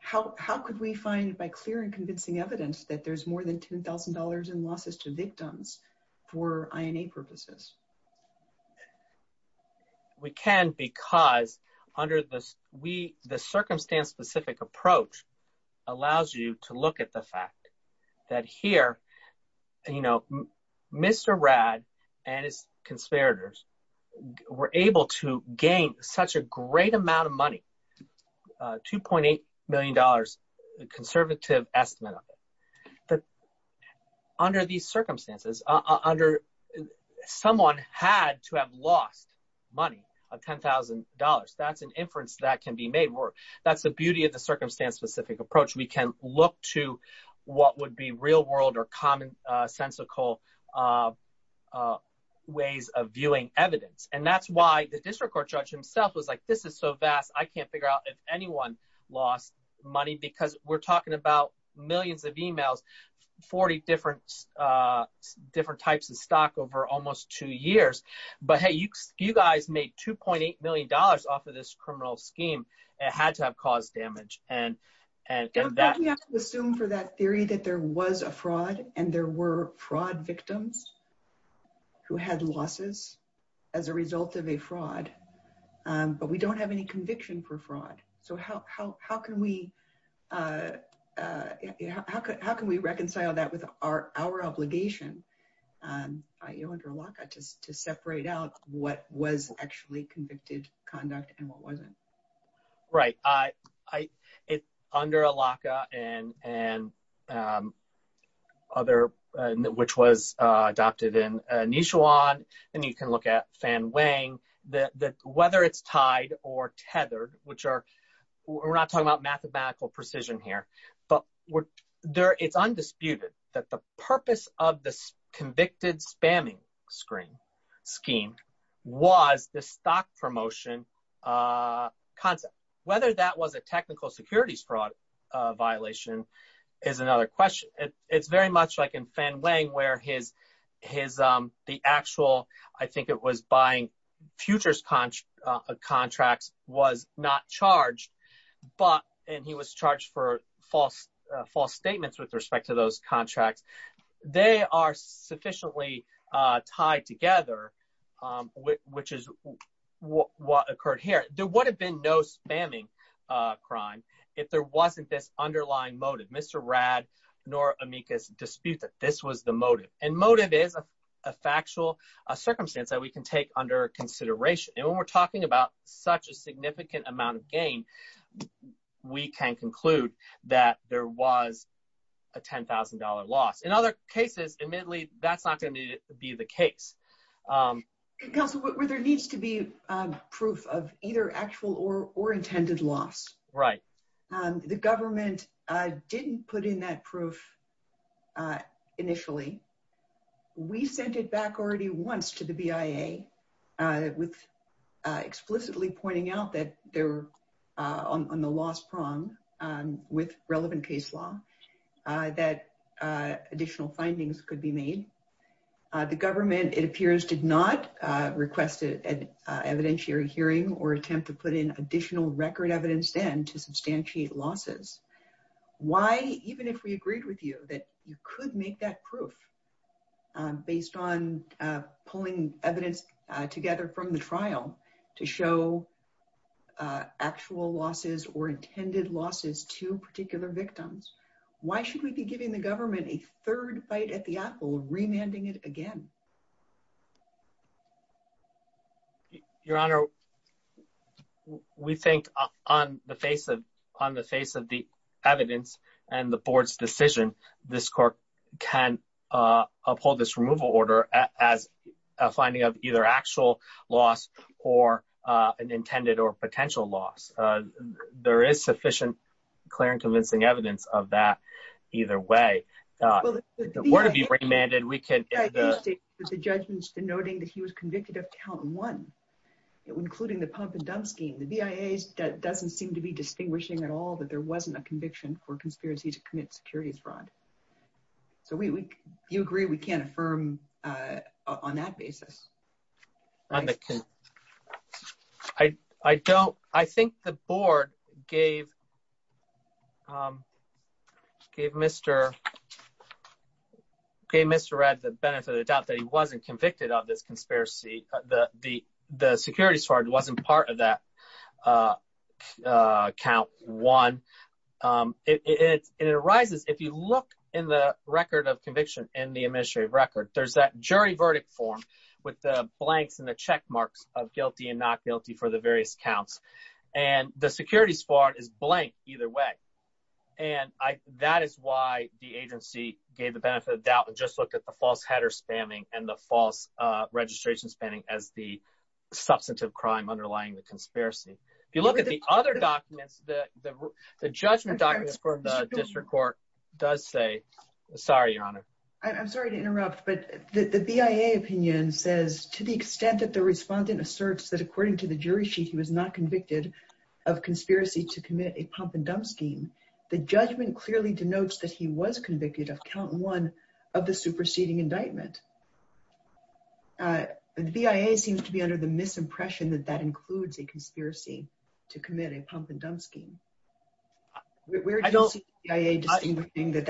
how could we find by clear and convincing evidence that there's more than $10,000 in losses to victims for INA purposes? We can because under the circumstance specific approach allows you to look at the fact that here, Mr. Rad and his conspirators were able to gain such a great amount of money, $2.8 million, the conservative estimate of it. Under these circumstances, someone had to have lost money of $10,000. That's an inference that can be made. That's the beauty of the circumstance specific approach. We can look to what would be real world or common sensical ways of viewing evidence. That's why the district court judge himself was like, this is so vast, I can't figure out if anyone lost money because we're talking about millions of emails, 40 different types of stock over almost two years. But hey, you guys made $2.8 million off of this criminal scheme. It had to have caused damage. We have to assume for that theory that there was a fraud and there were fraud victims who had losses as a result of a fraud, but we don't have any conviction for fraud. So how can we reconcile that with our obligation to separate out what was actually convicted conduct and what wasn't? Right. Under ALACA and other, which was adopted in Nichuan, and you can look at Fan Wang, whether it's tied or tethered, which are, we're not talking about mathematical precision here. But it's undisputed that the purpose of the convicted spamming scheme was the stock promotion concept. Whether that was a technical securities fraud violation is another question. It's very much like in Fan Wang where the actual, I think it was buying futures contracts was not charged, and he was charged for false statements with respect to those contracts. They are sufficiently tied together, which is what occurred here. There would have been no spamming crime if there wasn't this underlying motive. Mr. Radd nor Amicus dispute that this was the motive, and motive is a factual circumstance that we can take under consideration. And when we're talking about such a significant amount of gain, we can conclude that there was a $10,000 loss. In other cases, admittedly, that's not going to be the case. Counselor, there needs to be proof of either actual or intended loss. Right. The government didn't put in that proof initially. We sent it back already once to the BIA with explicitly pointing out that they're on the loss prong with relevant case law that additional findings could be made. The government, it appears, did not request an evidentiary hearing or attempt to put in additional record evidence then to substantiate losses. Why, even if we agreed with you that you could make that proof based on pulling evidence together from the trial to show actual losses or intended losses to particular victims, why should we be giving the government a third bite at the apple, remanding it again? Your Honor, we think on the face of the evidence and the board's decision, this court can uphold this removal order as a finding of either actual loss or an intended or potential loss. There is sufficient clear and convincing evidence of that either way. The word would be remanded. The judgment's denoting that he was convicted of count one, including the pump and dump scheme. The BIA doesn't seem to be distinguishing at all that there wasn't a conviction for conspiracy to commit security fraud. So you agree we can't affirm on that basis? I think the board gave Mr. Red the benefit of the doubt that he wasn't convicted of this conspiracy. The security fraud wasn't part of that count one. If you look in the record of conviction in the administrative record, there's that jury verdict form with the blanks and the check marks of guilty and not guilty for the various counts. And the security fraud is blank either way. And that is why the agency gave the benefit of doubt and just looked at the false header spamming and the false registration spamming as the substantive crime underlying the conspiracy. If you look at the other documents, the judgment documents for the district court does say – sorry, Your Honor. I'm sorry to interrupt, but the BIA opinion says to the extent that the respondent asserts that according to the jury sheet he was not convicted of conspiracy to commit a pump and dump scheme, the judgment clearly denotes that he was convicted of count one of the superseding indictment. The BIA seems to be under the misimpression that that includes a conspiracy to commit a pump and dump scheme. Where do you see the BIA distinguishing that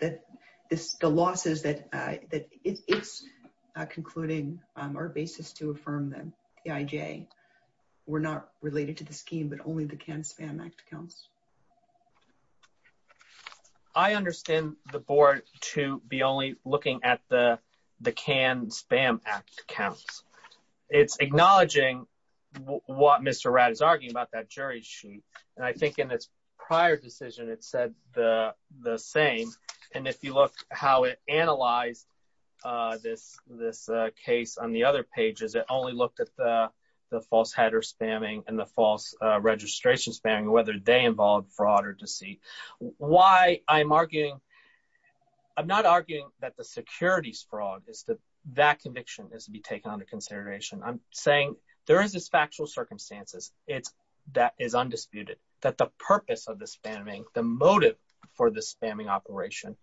the losses that it's concluding are basis to affirm that AIJ were not related to the scheme but only the canned spam act counts? I understand the board to be only looking at the canned spam act counts. It's acknowledging what Mr. Ratt is arguing about that jury sheet. And I think in its prior decision it said the same. And if you look how it analyzed this case on the other pages, it only looked at the false header spamming and the false registration spamming, whether they involved fraud or deceit. Why I'm arguing – I'm not arguing that the securities fraud is that that conviction is to be taken under consideration. I'm saying there is this factual circumstances that is undisputed that the purpose of the spamming, the motive for the spamming operation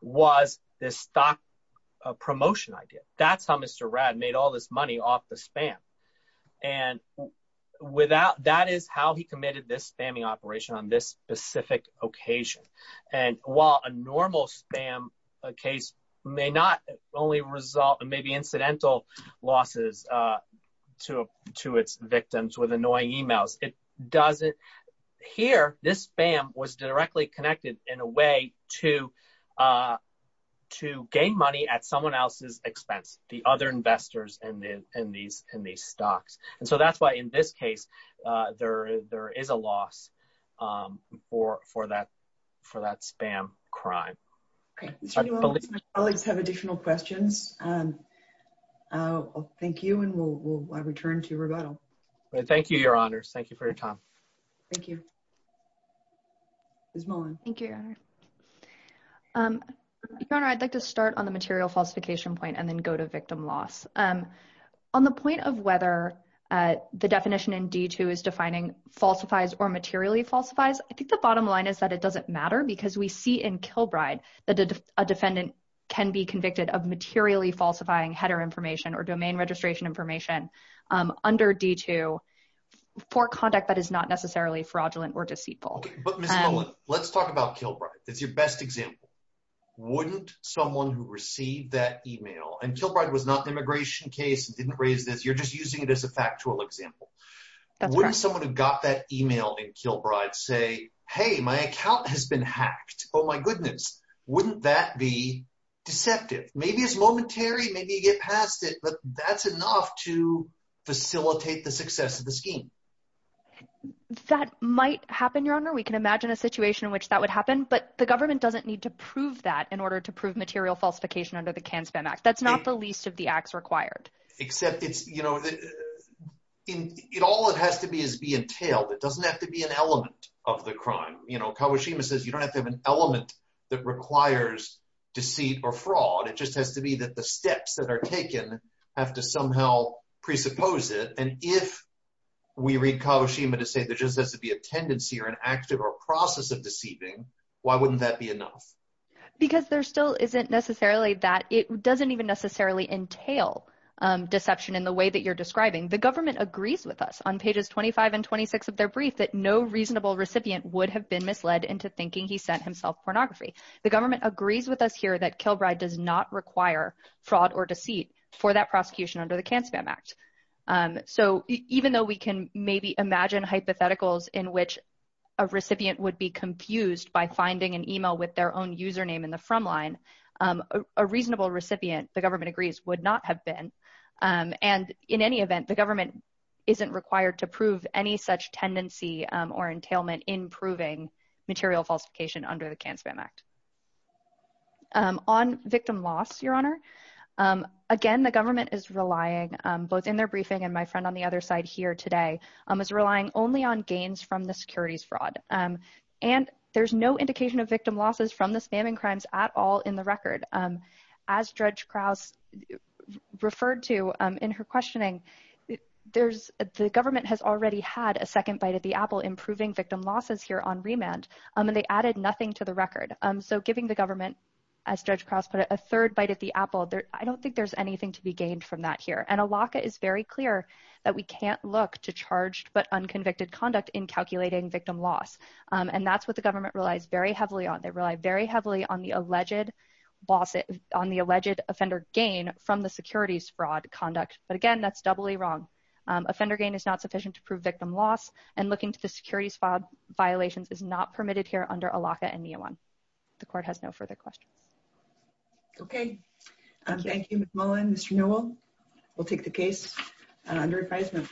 was this stock promotion idea. That's how Mr. Ratt made all this money off the spam. And that is how he committed this spamming operation on this specific occasion. And while a normal spam case may not only result in maybe incidental losses to its victims with annoying emails, it doesn't – here this spam was directly connected in a way to gain money at someone else's expense, the other investors in these stocks. And so that's why in this case there is a loss for that spam crime. My colleagues have additional questions. Thank you, and we'll return to rebuttal. Thank you, Your Honors. Thank you for your time. Thank you. Ms. Mullen. Thank you, Your Honor. Your Honor, I'd like to start on the material falsification point and then go to victim loss. On the point of whether the definition in D2 is defining falsifies or materially falsifies, I think the bottom line is that it doesn't matter because we see in Kilbride that a defendant can be convicted of materially falsifying header information or domain registration information under D2 for conduct that is not necessarily fraudulent or deceitful. But, Ms. Mullen, let's talk about Kilbride. It's your best example. Wouldn't someone who received that email, and Kilbride was not an immigration case and didn't raise this, you're just using it as a factual example. That's correct. Wouldn't someone who got that email in Kilbride say, hey, my account has been hacked. Oh, my goodness. Wouldn't that be deceptive? Maybe it's momentary, maybe you get past it, but that's enough to facilitate the success of the scheme. That might happen, Your Honor. We can imagine a situation in which that would happen, but the government doesn't need to prove that in order to prove material falsification under the CAN-SPAM Act. That's not the least of the acts required. Except it's, you know, all it has to be is be entailed. It doesn't have to be an element of the crime. You know, Kagoshima says you don't have to have an element that requires deceit or fraud. It just has to be that the steps that are taken have to somehow presuppose it. And if we read Kagoshima to say there just has to be a tendency or an act or a process of deceiving, why wouldn't that be enough? Because there still isn't necessarily that. It doesn't even necessarily entail deception in the way that you're describing. The government agrees with us on pages 25 and 26 of their brief that no reasonable recipient would have been misled into thinking he sent himself pornography. The government agrees with us here that Kilbride does not require fraud or deceit for that prosecution under the CAN-SPAM Act. So even though we can maybe imagine hypotheticals in which a recipient would be confused by finding an email with their own username in the front line, a reasonable recipient, the government agrees, would not have been. And in any event, the government isn't required to prove any such tendency or entailment in proving material falsification under the CAN-SPAM Act. On victim loss, Your Honor, again, the government is relying, both in their briefing and my friend on the other side here today, is relying only on gains from the securities fraud. And there's no indication of victim losses from the spamming crimes at all in the record. As Judge Krause referred to in her questioning, the government has already had a second bite at the apple in proving victim losses here on remand, and they added nothing to the record. So giving the government, as Judge Krause put it, a third bite at the apple, I don't think there's anything to be gained from that here. And ALACA is very clear that we can't look to charged but unconvicted conduct in calculating victim loss. And that's what the government relies very heavily on. They rely very heavily on the alleged offender gain from the securities fraud conduct. But again, that's doubly wrong. Offender gain is not sufficient to prove victim loss, and looking to the securities violations is not permitted here under ALACA and NEOWAN. The Court has no further questions. Okay. Thank you, Ms. Mullin. Mr. Newell, we'll take the case under advisement.